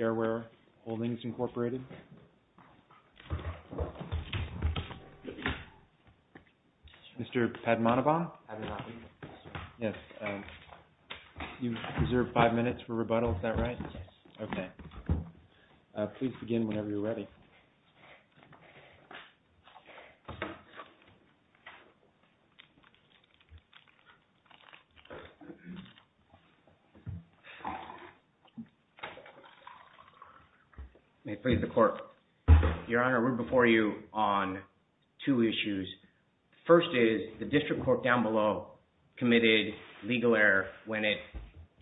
Airware Holdings Incorporated Mr. Padmanabhan, you have five minutes for rebuttal, is that right? Yes. Okay. Please begin whenever you're ready. May it please the Court. Your Honor, we're before you on two issues. The first is the District Court down below committed legal error when it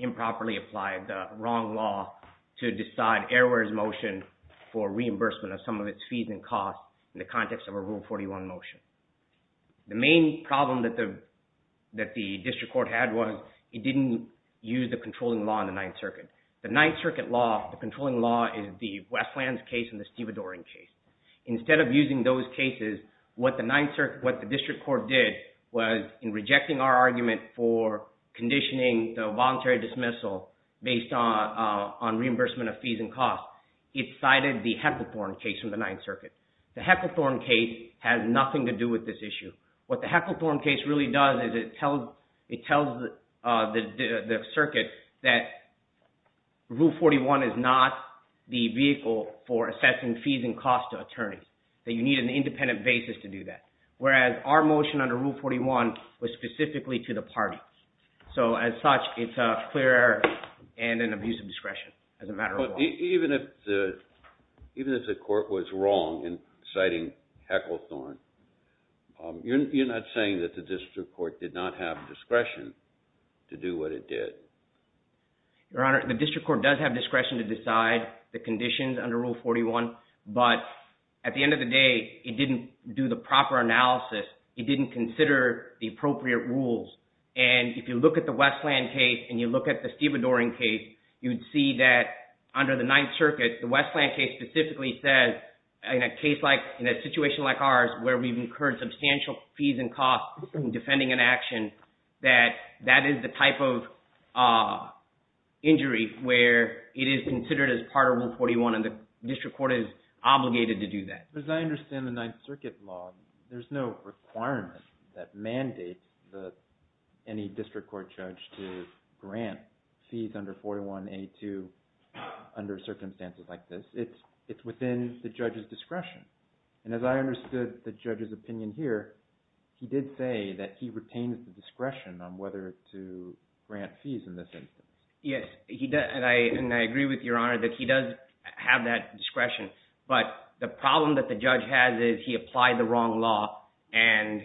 improperly applied the wrong law to decide Airware's motion for reimbursement of some of its fees and costs in the context of a Rule 41 motion. The main problem that the District Court had was it didn't use the controlling law in the Ninth Circuit. The Ninth Circuit law, the controlling law is the Westlands case and the Steve Adoring case. Instead of using those cases, what the District Court did was in rejecting our argument for conditioning the voluntary dismissal based on reimbursement of fees and costs, it cited the Hecklethorne case from the Ninth Circuit. The Hecklethorne case has nothing to do with this issue. What the Hecklethorne case really does is it tells the circuit that Rule 41 is not the case. You need an independent basis to do that, whereas our motion under Rule 41 was specifically to the party. As such, it's a clear error and an abuse of discretion. Even if the Court was wrong in citing Hecklethorne, you're not saying that the District Court did not have discretion to do what it did? Your Honor, the District Court does have discretion to decide the conditions under Rule 41, but at the end of the day, it didn't do the proper analysis. It didn't consider the appropriate rules. If you look at the Westland case and you look at the Steve Adoring case, you'd see that under the Ninth Circuit, the Westland case specifically says, in a situation like ours where we've incurred substantial fees and costs in defending an action, that that is the type of injury where it is considered as part of Rule 41 and the District Court is obligated to do that. As I understand the Ninth Circuit law, there's no requirement that mandates any District Court judge to grant fees under 41A2 under circumstances like this. It's within the judge's discretion. And as I understood the judge's opinion here, he did say that he retains the discretion on whether to grant fees in this instance. Yes, and I agree with Your Honor that he does have that discretion, but the problem that the judge has is he applied the wrong law and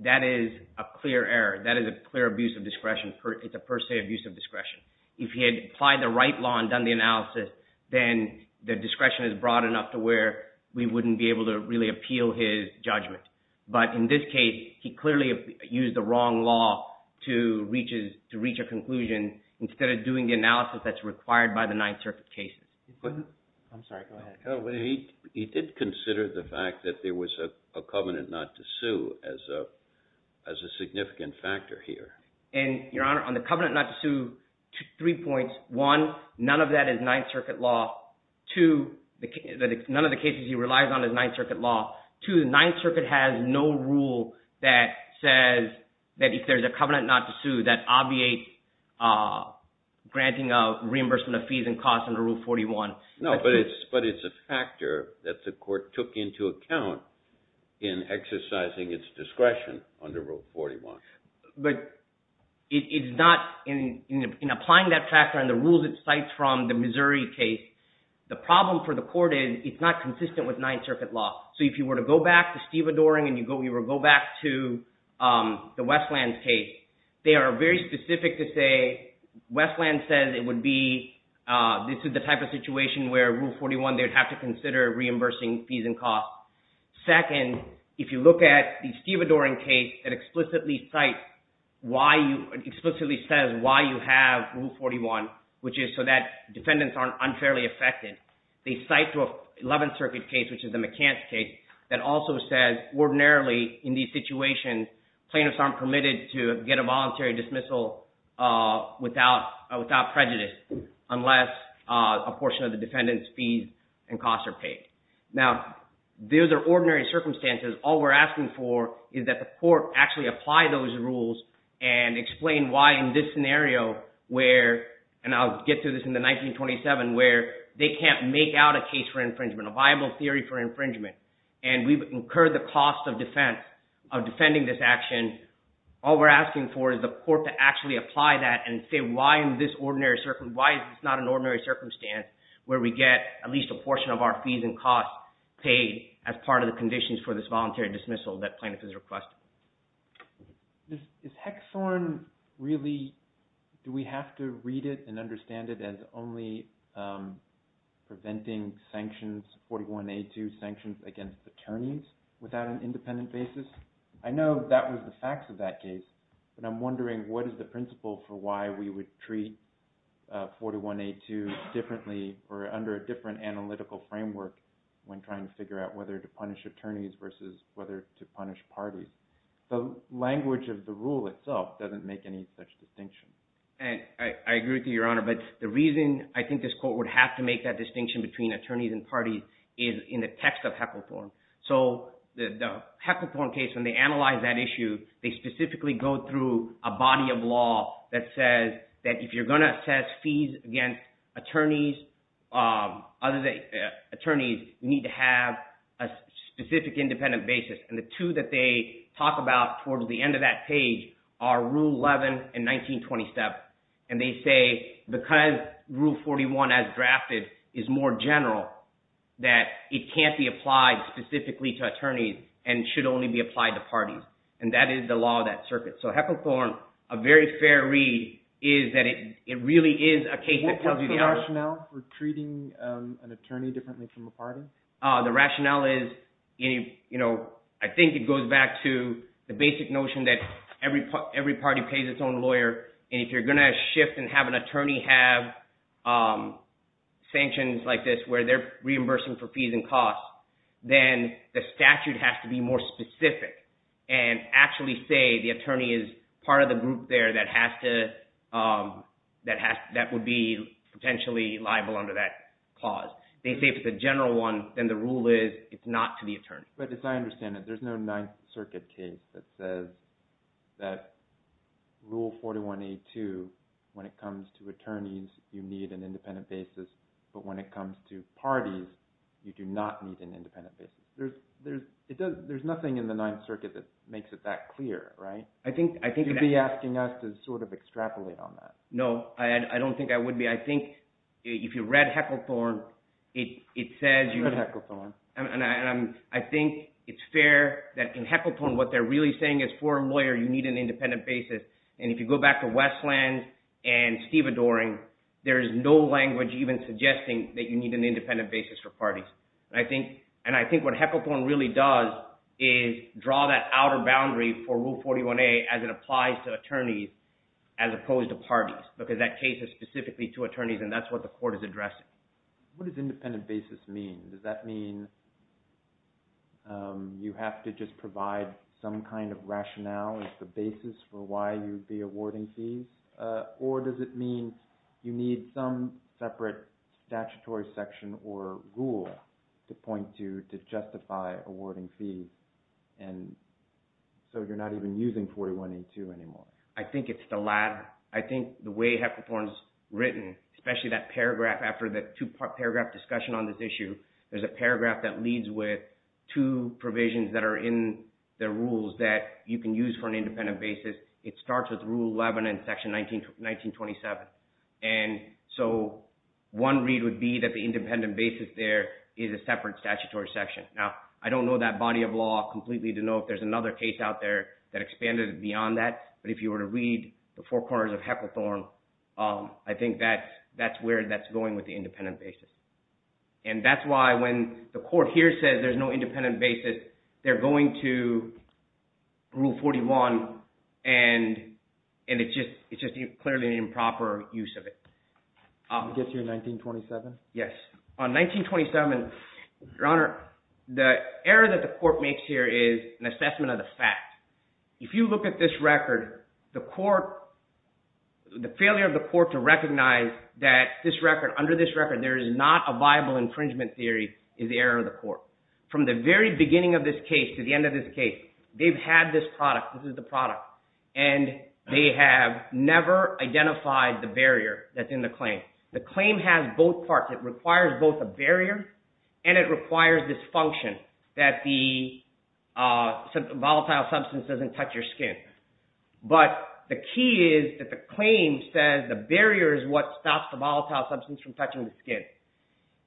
that is a clear error. That is a clear abuse of discretion. It's a per se abuse of discretion. If he had applied the right law and done the analysis, then the discretion is broad enough to where we wouldn't be able to really appeal his judgment. But in this case, he clearly used the wrong law to reach a conclusion instead of doing the analysis that's required by the Ninth Circuit cases. I'm sorry, go ahead. He did consider the fact that there was a covenant not to sue as a significant factor here. And Your Honor, on the covenant not to sue, three points. One, none of that is Ninth Circuit law. Two, none of the cases he relies on is Ninth Circuit law. Two, Ninth Circuit has no rule that says that if there's a covenant not to sue, that obviates granting of reimbursement of fees and costs under Rule 41. No, but it's a factor that the court took into account in exercising its discretion under Rule 41. But it's not, in applying that factor and the rules it cites from the Missouri case, the problem for the court is it's not consistent with Ninth Circuit law. So if you were to go back to Steve Adoring and you were to go back to the Westland case, they are very specific to say, Westland says it would be, this is the type of situation where Rule 41, they'd have to consider reimbursing fees and costs. Second, if you look at the Steve Adoring case, it explicitly cites, explicitly says why you have Rule 41, which is so that defendants aren't unfairly affected. They cite to an Eleventh Circuit case, which is the McCants case, that also says ordinarily in these situations, plaintiffs aren't permitted to get a voluntary dismissal without prejudice unless a portion of the defendant's fees and costs are paid. Now, those are ordinary circumstances. All we're asking for is that the court actually apply those rules and explain why in this can't make out a case for infringement, a viable theory for infringement, and we've incurred the cost of defense, of defending this action. All we're asking for is the court to actually apply that and say why in this ordinary circumstance, why is this not an ordinary circumstance where we get at least a portion of our fees and costs paid as part of the conditions for this voluntary dismissal that plaintiff is requesting. Is Hexhorn really, do we have to read it and understand it as only preventing sanctions, 41A2 sanctions against attorneys without an independent basis? I know that was the facts of that case, but I'm wondering what is the principle for why we would treat 41A2 differently or under a different analytical framework when trying to figure out whether to punish attorneys versus whether to punish parties. The language of the rule itself doesn't make any such distinction. I agree with you, Your Honor, but the reason I think this court would have to make that distinction between attorneys and parties is in the text of Hexhorn. So the Hexhorn case, when they analyze that issue, they specifically go through a body of law that says that if you're going to assess fees against attorneys, other than that you have a specific independent basis. And the two that they talk about towards the end of that page are Rule 11 and 1927. And they say because Rule 41, as drafted, is more general, that it can't be applied specifically to attorneys and should only be applied to parties. And that is the law of that circuit. So Hexhorn, a very fair read, is that it really is a case that tells you… What was the rationale for treating an attorney differently from a party? The rationale is, I think it goes back to the basic notion that every party pays its own lawyer. And if you're going to shift and have an attorney have sanctions like this where they're reimbursing for fees and costs, then the statute has to be more specific and actually say the attorney is part of the group there that would be potentially liable under that clause. They say if it's a general one, then the rule is it's not to the attorney. But as I understand it, there's no Ninth Circuit case that says that Rule 41A2, when it comes to attorneys, you need an independent basis, but when it comes to parties, you do not need an independent basis. There's nothing in the Ninth Circuit that makes it that clear, right? I think… You should be asking us to sort of extrapolate on that. No, I don't think I would be. I think if you read Hecklethorne, it says… I read Hecklethorne. And I think it's fair that in Hecklethorne, what they're really saying is for a lawyer, you need an independent basis. And if you go back to Westland and Steve Adoring, there is no language even suggesting that you need an independent basis for parties. And I think what Hecklethorne really does is draw that outer boundary for Rule 41A as it applies to attorneys as opposed to parties because that case is specifically to attorneys and that's what the court is addressing. What does independent basis mean? Does that mean you have to just provide some kind of rationale as the basis for why you would be awarding fees? Or does it mean you need some separate statutory section or rule to point to to justify awarding fees? And so you're not even using 41A2 anymore. I think it's the latter. I think the way Hecklethorne's written, especially that paragraph after the two-part paragraph discussion on this issue, there's a paragraph that leads with two provisions that are in the rules that you can use for an independent basis. It starts with Rule 11 in Section 1927. And so one read would be that the independent basis there is a separate statutory section. Now, I don't know that body of law completely to know if there's another case out there that expanded beyond that. But if you were to read the four corners of Hecklethorne, I think that's where that's going with the independent basis. And that's why when the court here says there's no independent basis, they're going to Rule 41 and it's just clearly an improper use of it. I guess you're 1927? Yes. On 1927, Your Honor, the error that the court makes here is an assessment of the fact. If you look at this record, the failure of the court to recognize that under this record there is not a viable infringement theory is the error of the court. From the very beginning of this case to the end of this case, they've had this product. This is the product. And they have never identified the barrier that's in the claim. The claim has both parts. It requires both a barrier and it requires this function that the volatile substance doesn't touch your skin. But the key is that the claim says the barrier is what stops the volatile substance from touching the skin.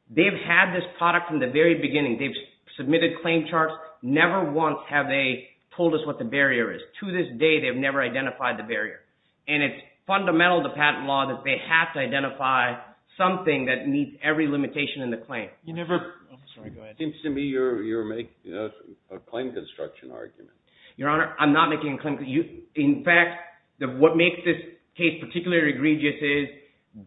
They've had this product from the very beginning. They've submitted claim charts. Never once have they told us what the barrier is. To this day, they've never identified the barrier. And it's fundamental to patent law that they have to identify something that meets every limitation in the claim. It seems to me you're making a claim construction argument. Your Honor, I'm not making a claim. In fact, what makes this case particularly egregious is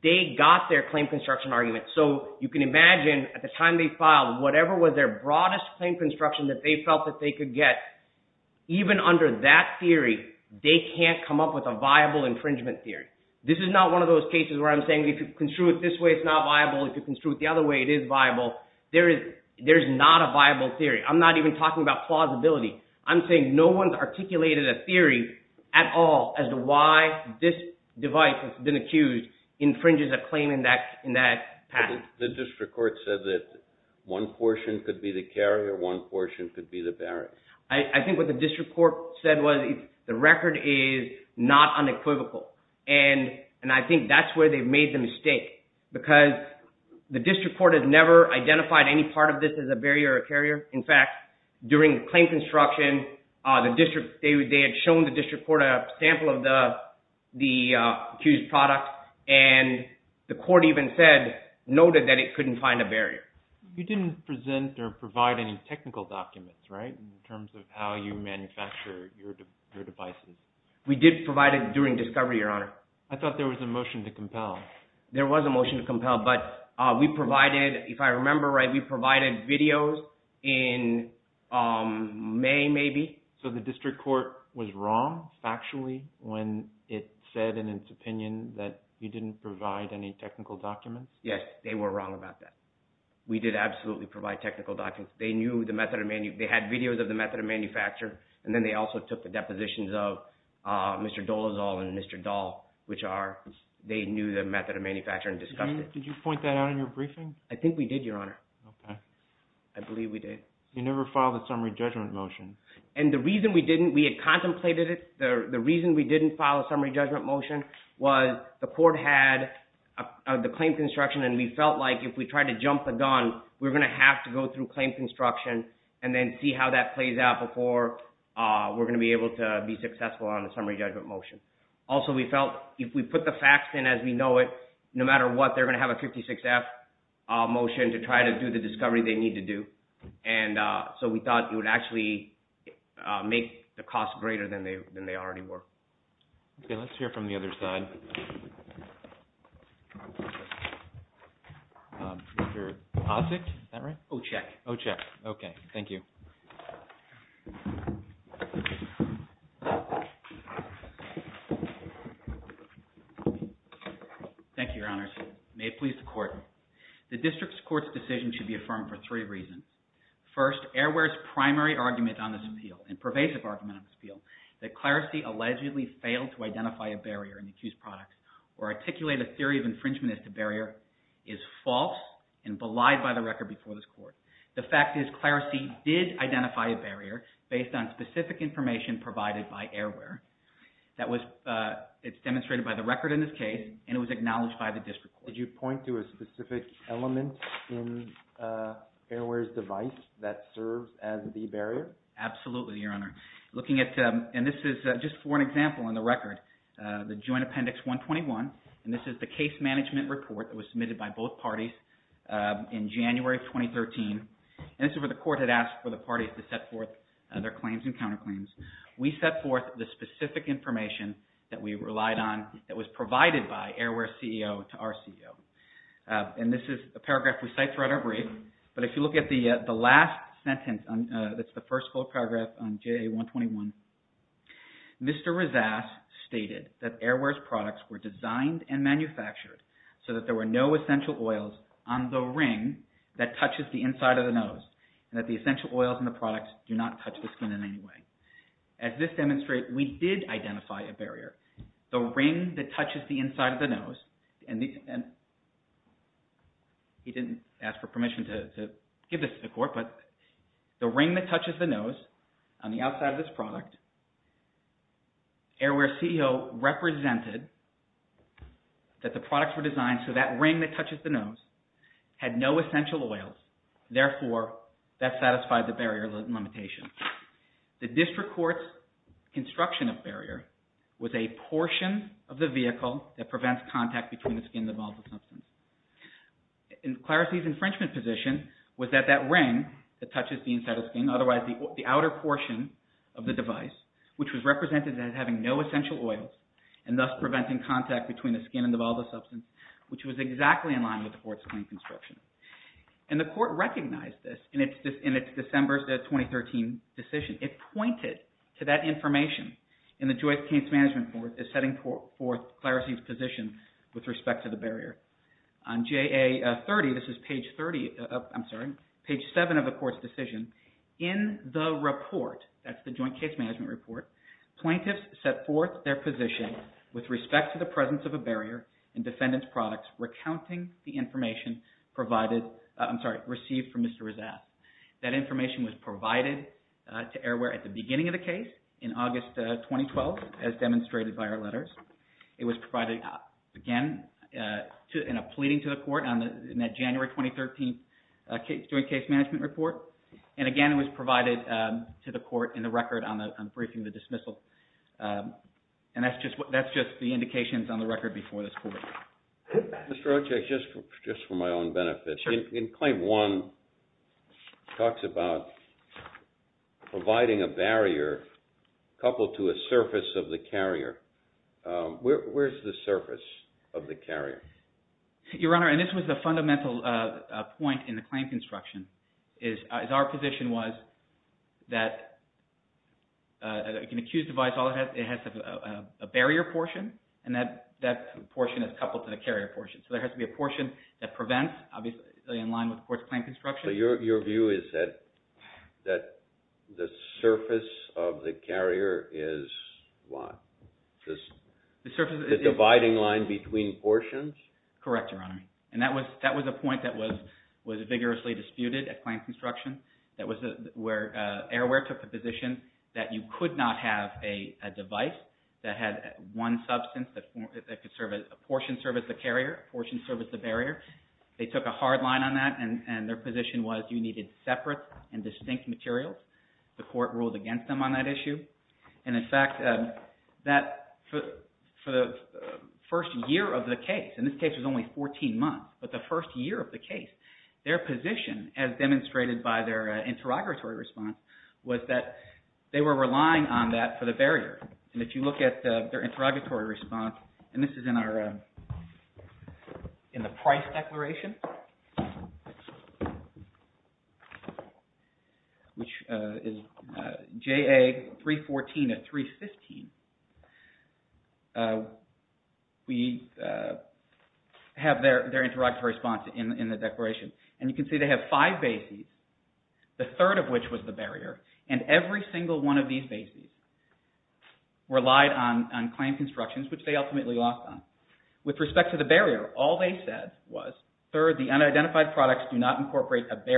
they got their claim construction argument. So you can imagine at the time they filed, whatever was their broadest claim construction that they felt that they could get, even under that theory, they can't come up with a viable infringement theory. This is not one of those cases where I'm saying if you construe it this way, it's not viable. If you construe it the other way, it is viable. There is not a viable theory. I'm not even talking about plausibility. I'm saying no one's articulated a theory at all as to why this device that's been accused infringes a claim in that patent. The district court said that one portion could be the carrier. One portion could be the barrier. I think what the district court said was the record is not unequivocal. I think that's where they've made the mistake because the district court has never identified any part of this as a barrier or a carrier. In fact, during the claim construction, they had shown the district court a sample of the accused product and the court even said, noted that it couldn't find a barrier. You didn't present or provide any technical documents, right, in terms of how you manufacture your devices? We did provide it during discovery, Your Honor. I thought there was a motion to compel. There was a motion to compel, but we provided, if I remember right, we provided videos in May, maybe. So the district court was wrong factually when it said in its opinion that you didn't provide any technical documents? Yes, they were wrong about that. We did absolutely provide technical documents. They knew the method of, they had videos of the method of manufacture, and then they also took the depositions of Mr. Dolezal and Mr. Dahl, which are, they knew the method of manufacture and discussed it. Did you point that out in your briefing? I think we did, Your Honor. Okay. I believe we did. You never filed a summary judgment motion. And the reason we didn't, we had contemplated it. The reason we didn't file a summary judgment motion was the court had the claim construction and we felt like if we tried to jump the gun, we're going to have to go through claim construction and then see how that plays out before we're going to be able to be successful on a summary judgment motion. Also, we felt if we put the facts in as we know it, no matter what, they're going to have a 56F motion to try to do the discovery they need to do. And so we thought it would actually make the cost greater than they already were. Okay. Let's hear from the other side. Mr. Ossock, is that right? Ocheck. Ocheck. Okay. Thank you. Thank you, Your Honors. May it please the court. The district court's decision should be affirmed for three reasons. First, Airware's primary argument on this appeal, and pervasive argument on this appeal, that Clarice allegedly failed to identify a barrier in the accused products or articulate a theory of infringement as the barrier is false and belied by the record before this court. The fact is Clarice did identify a barrier based on specific information provided by Airware. It's demonstrated by the record in this case and it was acknowledged by the district court. Did you point to a specific element in Airware's device that serves as the barrier? Absolutely, Your Honor. Looking at, and this is just for an example in the record, the Joint Appendix 121, and this is the case management report that was submitted by both parties in January of 2013. And this is where the court had asked for the parties to set forth their claims and counterclaims. We set forth the specific information that we relied on that was provided by Airware's CEO to our CEO. And this is a paragraph we cite throughout our brief, but if you look at the last sentence, that's the first full paragraph on JA 121, Mr. Rezas stated that Airware's products were designed and manufactured so that there were no essential oils on the ring that touches the inside of the nose and that the essential oils in the products do not touch the skin in any way. As this demonstrates, we did identify a barrier. The ring that touches the inside of the nose, and he didn't ask for permission to give this to the court, but the ring that touches the nose on the outside of this product, Airware's CEO represented that the products were designed so that ring that touches the nose had no essential oils. Therefore, that satisfied the barrier limitation. The district court's construction of barrier was a portion of the vehicle that prevents contact between the skin and the volatile substance. And Clarice's infringement position was that that ring that touches the inside of the skin, otherwise the outer portion of the device, which was represented as having no essential oils and thus preventing contact between the skin and the volatile substance, which was exactly in line with the court's claim construction. And the court recognized this in its December 2013 decision. It pointed to that information in the Joint Case Management Report as setting forth Clarice's position with respect to the barrier. On JA30, this is page 30, I'm sorry, page 7 of the court's decision, in the report, that's the Joint Case Management Report, plaintiffs set forth their position with respect to the received from Mr. Rezat. That information was provided to Airware at the beginning of the case, in August 2012, as demonstrated by our letters. It was provided, again, in a pleading to the court in that January 2013 Joint Case Management Report. And again, it was provided to the court in the record on the briefing of the dismissal. And that's just the indications on the record before this court. Mr. Rocha, just for my own benefit, in Claim 1, it talks about providing a barrier coupled to a surface of the carrier. Where's the surface of the carrier? Your Honor, and this was the fundamental point in the claim construction, is our position was that an accused device has a barrier portion, and that portion is coupled to the carrier portion. So there has to be a portion that prevents, obviously in line with the court's claim construction. So your view is that the surface of the carrier is what? The dividing line between portions? Correct, Your Honor. And that was a point that was vigorously disputed at claim construction. That was where Airware took the position that you could not have a device that had one substance that could serve, a portion serve as the carrier, a portion serve as the barrier. They took a hard line on that, and their position was you needed separate and distinct materials. The court ruled against them on that issue. And in fact, for the first year of the case, and this case was only 14 months, but the first year of the case, their position as demonstrated by their interrogatory response was that they were relying on that for the barrier. And if you look at their interrogatory response, and this is in the Price Declaration, which is JA 314 of 315, we have their interrogatory response in the declaration. And you can see they have five bases, the third of which was the barrier, and every single one of these bases relied on claim constructions, which they ultimately lost on. With respect to the barrier, all they said was, third, the unidentified products do not The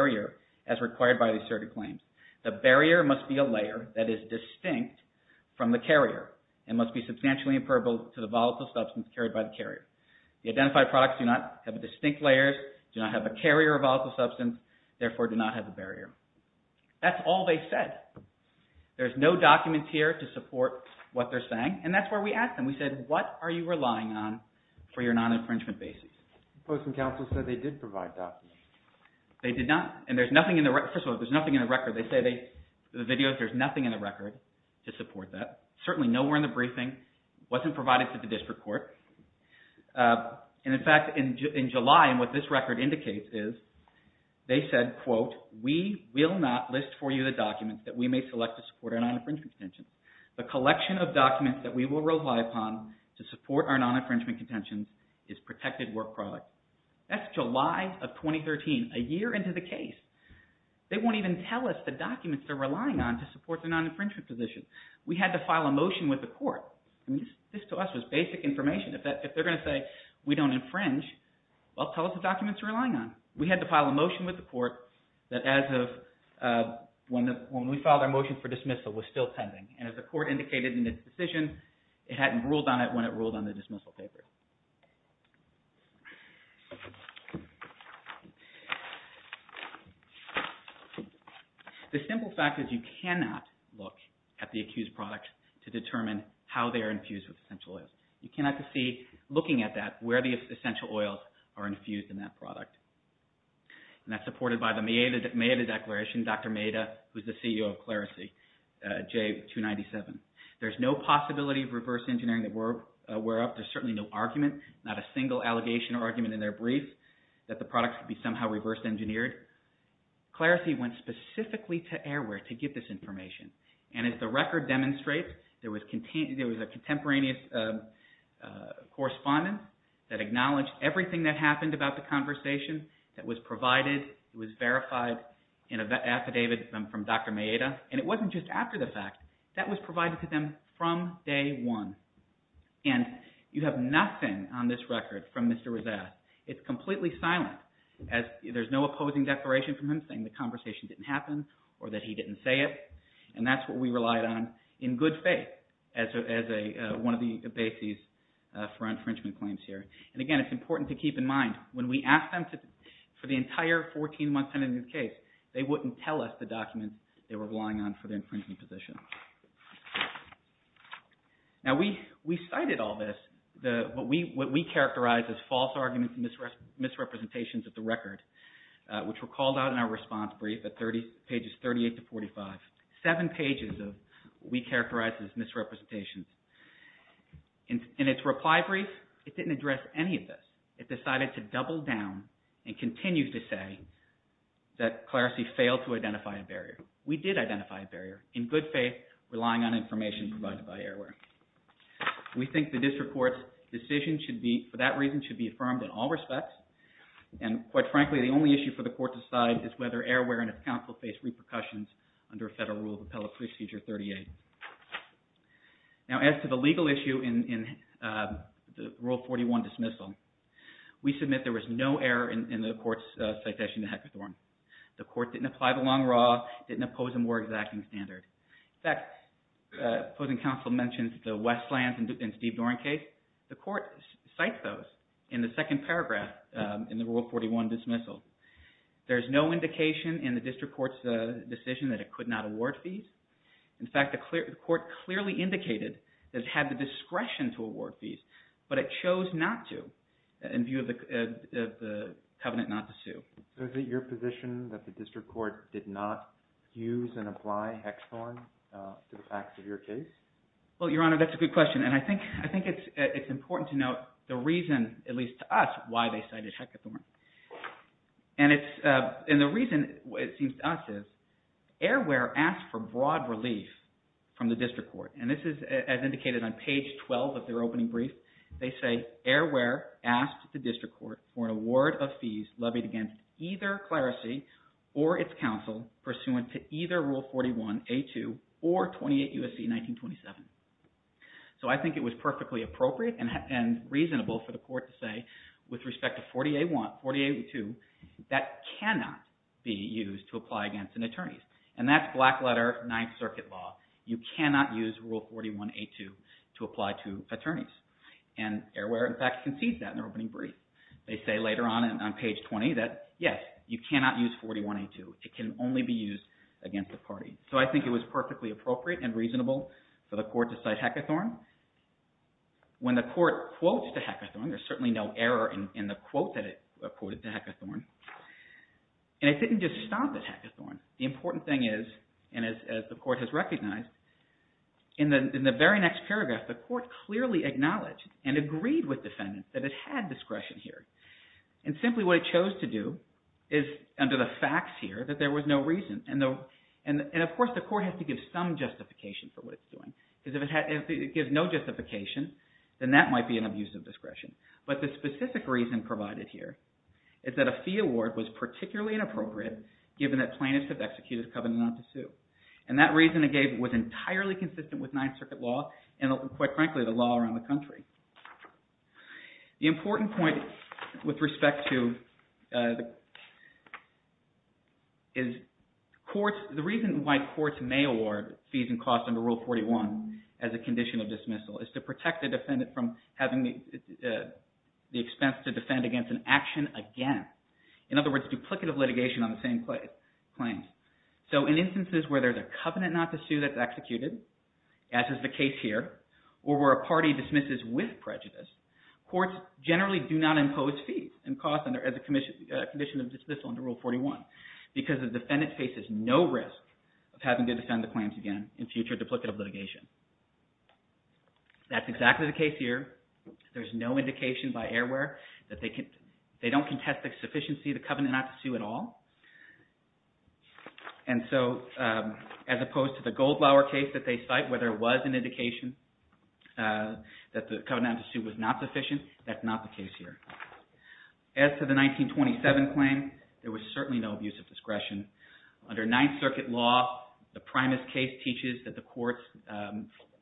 barrier must be a layer that is distinct from the carrier and must be substantially imperbable to the volatile substance carried by the carrier. The identified products do not have distinct layers, do not have a carrier of volatile substance, therefore do not have a barrier. That's all they said. There's no documents here to support what they're saying, and that's where we asked them. We said, what are you relying on for your non-infringement basis? The Post and Counsel said they did provide documents. They did not. And there's nothing in the record. First of all, there's nothing in the record. They say in the videos there's nothing in the record to support that. Certainly nowhere in the briefing. It wasn't provided to the district court. And in fact, in July, and what this record indicates is, they said, quote, we will not list for you the documents that we may select to support our non-infringement contention. The collection of documents that we will rely upon to support our non-infringement contention is protected work product. That's July of 2013, a year into the case. They won't even tell us the documents they're relying on to support their non-infringement position. We had to file a motion with the court. I mean, this to us was basic information. If they're going to say we don't infringe, well, tell us the documents you're relying on. We had to file a motion with the court that as of when we filed our motion for dismissal was still pending. And as the court indicated in its decision, it hadn't ruled on it when it ruled on the dismissal paper. The simple fact is you cannot look at the accused products to determine how they are infused with essential oils. You cannot see, looking at that, where the essential oils are infused in that product. And that's supported by the Maeda Declaration, Dr. Maeda, who's the CEO of Clarissi, J297. There's no possibility of reverse engineering that we're aware of. There's certainly no argument, not a single allegation or argument in their brief that the products could be somehow reversed engineered. Clarissi went specifically to Airware to get this information. And as the record demonstrates, there was a contemporaneous correspondence that acknowledged everything that happened about the conversation that was provided, was verified in an affidavit from Dr. Maeda. And it wasn't just after the fact. That was provided to them from day one. And you have nothing on this record from Mr. Rezat. It's completely silent. There's no opposing declaration from him saying the conversation didn't happen or that he didn't say it. And that's what we relied on in good faith as one of the bases for infringement claims here. And again, it's important to keep in mind, when we asked them for the entire 14-month tendency case, they wouldn't tell us the documents they were relying on for the infringement position. Now, we cited all this, what we characterized as false arguments and misrepresentations of the record, which were called out in our response brief at pages 38 to 45. Seven pages of what we characterized as misrepresentations. In its reply brief, it didn't address any of this. It decided to double down and continue to say that Clarissi failed to identify a barrier. We did identify a barrier. In good faith, relying on information provided by Airware. We think the district court's decision should be, for that reason, should be affirmed in all respects. And, quite frankly, the only issue for the court to decide is whether Airware and its counsel face repercussions under Federal Rule of Appellate Procedure 38. Now, as to the legal issue in Rule 41 dismissal, we submit there was no error in the court's citation to Hector Thorne. The court didn't apply the long raw, didn't oppose a more exacting standard. In fact, opposing counsel mentioned the Westlands and Steve Dorn case. The court cites those in the second paragraph in the Rule 41 dismissal. There's no indication in the district court's decision that it could not award fees. In fact, the court clearly indicated that it had the discretion to award fees, but it So is it your position that the district court did not use and apply Hector Thorne to the facts of your case? Well, Your Honor, that's a good question. And I think it's important to note the reason, at least to us, why they cited Hector Thorne. And the reason, it seems to us, is Airware asked for broad relief from the district court. And this is as indicated on page 12 of their opening brief. They say, Airware asked the district court for an award of fees levied against either Clerisy or its counsel pursuant to either Rule 41A2 or 28 U.S.C. 1927. So I think it was perfectly appropriate and reasonable for the court to say, with respect to 40A2, that cannot be used to apply against an attorney. And that's black letter Ninth Circuit law. You cannot use Rule 41A2 to apply to attorneys. And Airware, in fact, concedes that in their opening brief. They say later on on page 20 that, yes, you cannot use 41A2. It can only be used against a party. So I think it was perfectly appropriate and reasonable for the court to cite Hector Thorne. When the court quotes to Hector Thorne, there's certainly no error in the quote that it quoted to Hector Thorne. And it didn't just stop at Hector Thorne. The important thing is, and as the court has recognized, in the very next paragraph, the court acknowledged and agreed with defendants that it had discretion here. And simply what it chose to do is, under the facts here, that there was no reason. And, of course, the court has to give some justification for what it's doing. Because if it gives no justification, then that might be an abuse of discretion. But the specific reason provided here is that a fee award was particularly inappropriate given that plaintiffs have executed a covenant not to sue. And that reason it gave was entirely consistent with Ninth Circuit law and, quite frankly, the law around the country. The important point with respect to is the reason why courts may award fees and costs under Rule 41 as a condition of dismissal is to protect the defendant from having the expense to defend against an action against. In other words, duplicative litigation on the same claims. So in instances where there's a covenant not to sue that's executed, as is the case here, or where a party dismisses with prejudice, courts generally do not impose fees and costs as a condition of dismissal under Rule 41 because the defendant faces no risk of having to defend the claims again in future duplicative litigation. That's exactly the case here. There's no indication by airware that they don't contest the sufficiency of the covenant not to sue at all. And so as opposed to the Goldlauer case that they cite where there was an indication that the covenant not to sue was not sufficient, that's not the case here. As to the 1927 claim, there was certainly no abuse of discretion. Under Ninth Circuit law, the primus case teaches that the court's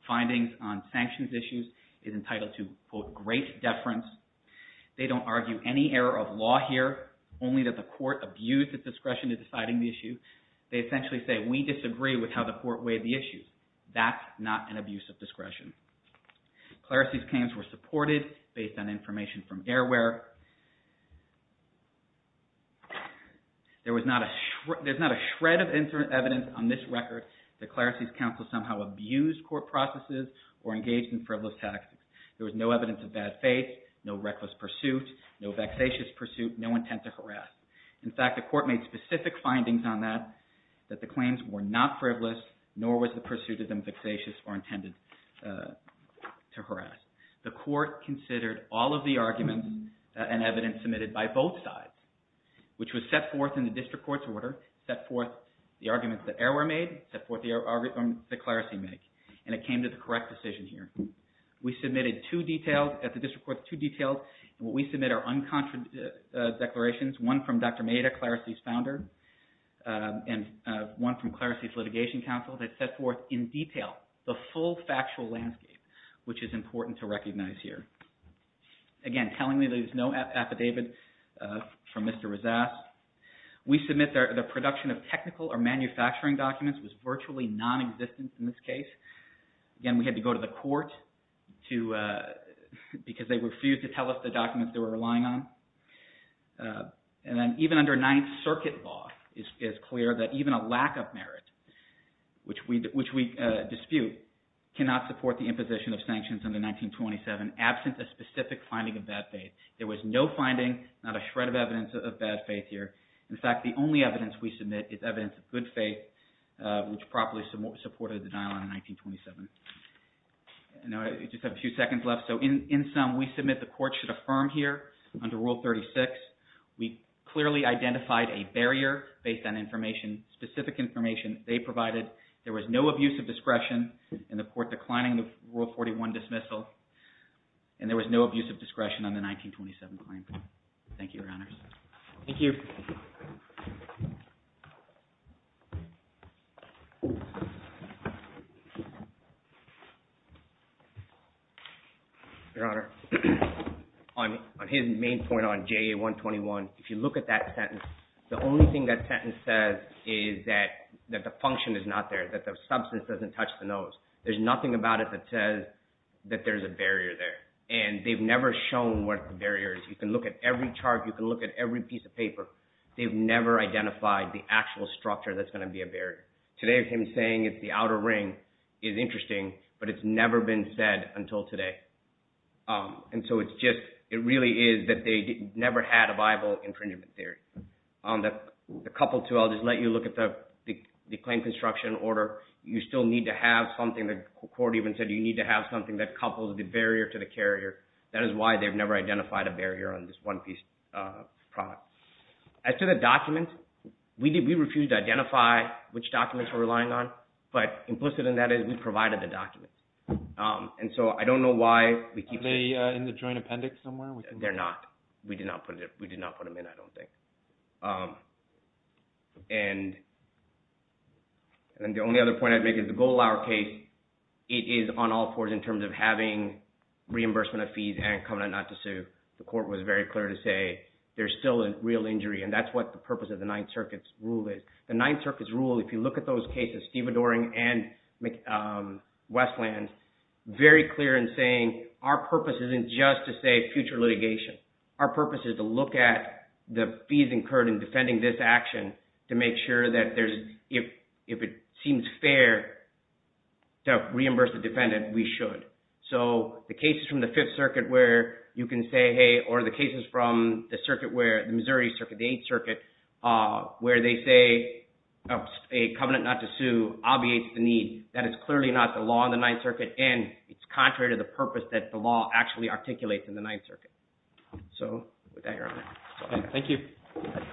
findings on sanctions issues is entitled to, quote, great deference. They don't argue any error of law here, only that the court abused its discretion in deciding the issue. They essentially say we disagree with how the court weighed the issues. That's not an abuse of discretion. Clarice's claims were supported based on information from airware. There's not a shred of evidence on this record that Clarice's counsel somehow abused court processes or engaged in frivolous tactics. There was no evidence of bad faith, no reckless pursuit, no vexatious pursuit, no intent to harass. In fact, the court made specific findings on that, that the claims were not frivolous nor was the pursuit of them vexatious or intended to harass. The court considered all of the arguments and evidence submitted by both sides, which was set forth in the district court's order, set forth the arguments that airware made, set forth the arguments that Clarice made, and it came to the correct decision here. We submitted two details at the district court, two details. What we submit are unconfirmed declarations, one from Dr. Maida, Clarice's founder, and one from Clarice's litigation counsel that set forth in detail the full factual landscape, which is important to recognize here. Again, telling me there's no affidavit from Mr. Razzas. We submit the production of technical or manufacturing documents was virtually nonexistent in this case. Again, we had to go to the court because they refused to tell us the documents they were relying on. And then even under Ninth Circuit law, it's clear that even a lack of merit, which we dispute, cannot support the imposition of sanctions under 1927 absent a specific finding of bad faith. There was no finding, not a shred of evidence of bad faith here. In fact, the only evidence we submit is evidence of good faith, which properly supported the denial in 1927. I just have a few seconds left. So in sum, we submit the court should affirm here under Rule 36, we clearly identified a barrier based on information, specific information they provided. There was no abuse of discretion in the court declining the Rule 41 dismissal, and there was no abuse of discretion on the 1927 claim. Thank you, Your Honors. Thank you. Your Honor, on his main point on JA-121, if you look at that sentence, the only thing that sentence says is that the function is not there, that the substance doesn't touch the nose. There's nothing about it that says that there's a barrier there, and they've never shown what the barrier is. You can look at every chart. You can look at every piece of paper. They've never identified the actual structure that's going to be a barrier. Today, if he's saying it's the outer ring, it's interesting, but it's never been said until today. And so it's just, it really is that they never had a viable infringement theory. The couple, too, I'll just let you look at the claim construction order. You still need to have something. The court even said you need to have something that couples the barrier to the carrier. That is why they've never identified a barrier on this one-piece product. As to the documents, we refused to identify which documents we're relying on, but implicit in that is we provided the documents. And so I don't know why we keep – Are they in the joint appendix somewhere? They're not. We did not put them in, I don't think. And the only other point I'd make is the Goldlauer case, it is on all fours in terms of having reimbursement of fees and coming out not to sue. The court was very clear to say there's still a real injury, and that's what the purpose of the Ninth Circuit's rule is. The Ninth Circuit's rule, if you look at those cases, Steve Adoring and Westlands, very clear in saying our purpose isn't just to say future litigation. Our purpose is to look at the fees incurred in defending this action to make sure that there's – if it seems fair to reimburse the defendant, we should. So the cases from the Fifth Circuit where you can say, hey – or the cases from the circuit where – the Missouri Circuit, the Eighth Circuit, where they say a covenant not to sue obviates the need. That is clearly not the law in the Ninth Circuit, and it's contrary to the purpose that the law actually articulates in the Ninth Circuit. So with that, Your Honor. Thank you.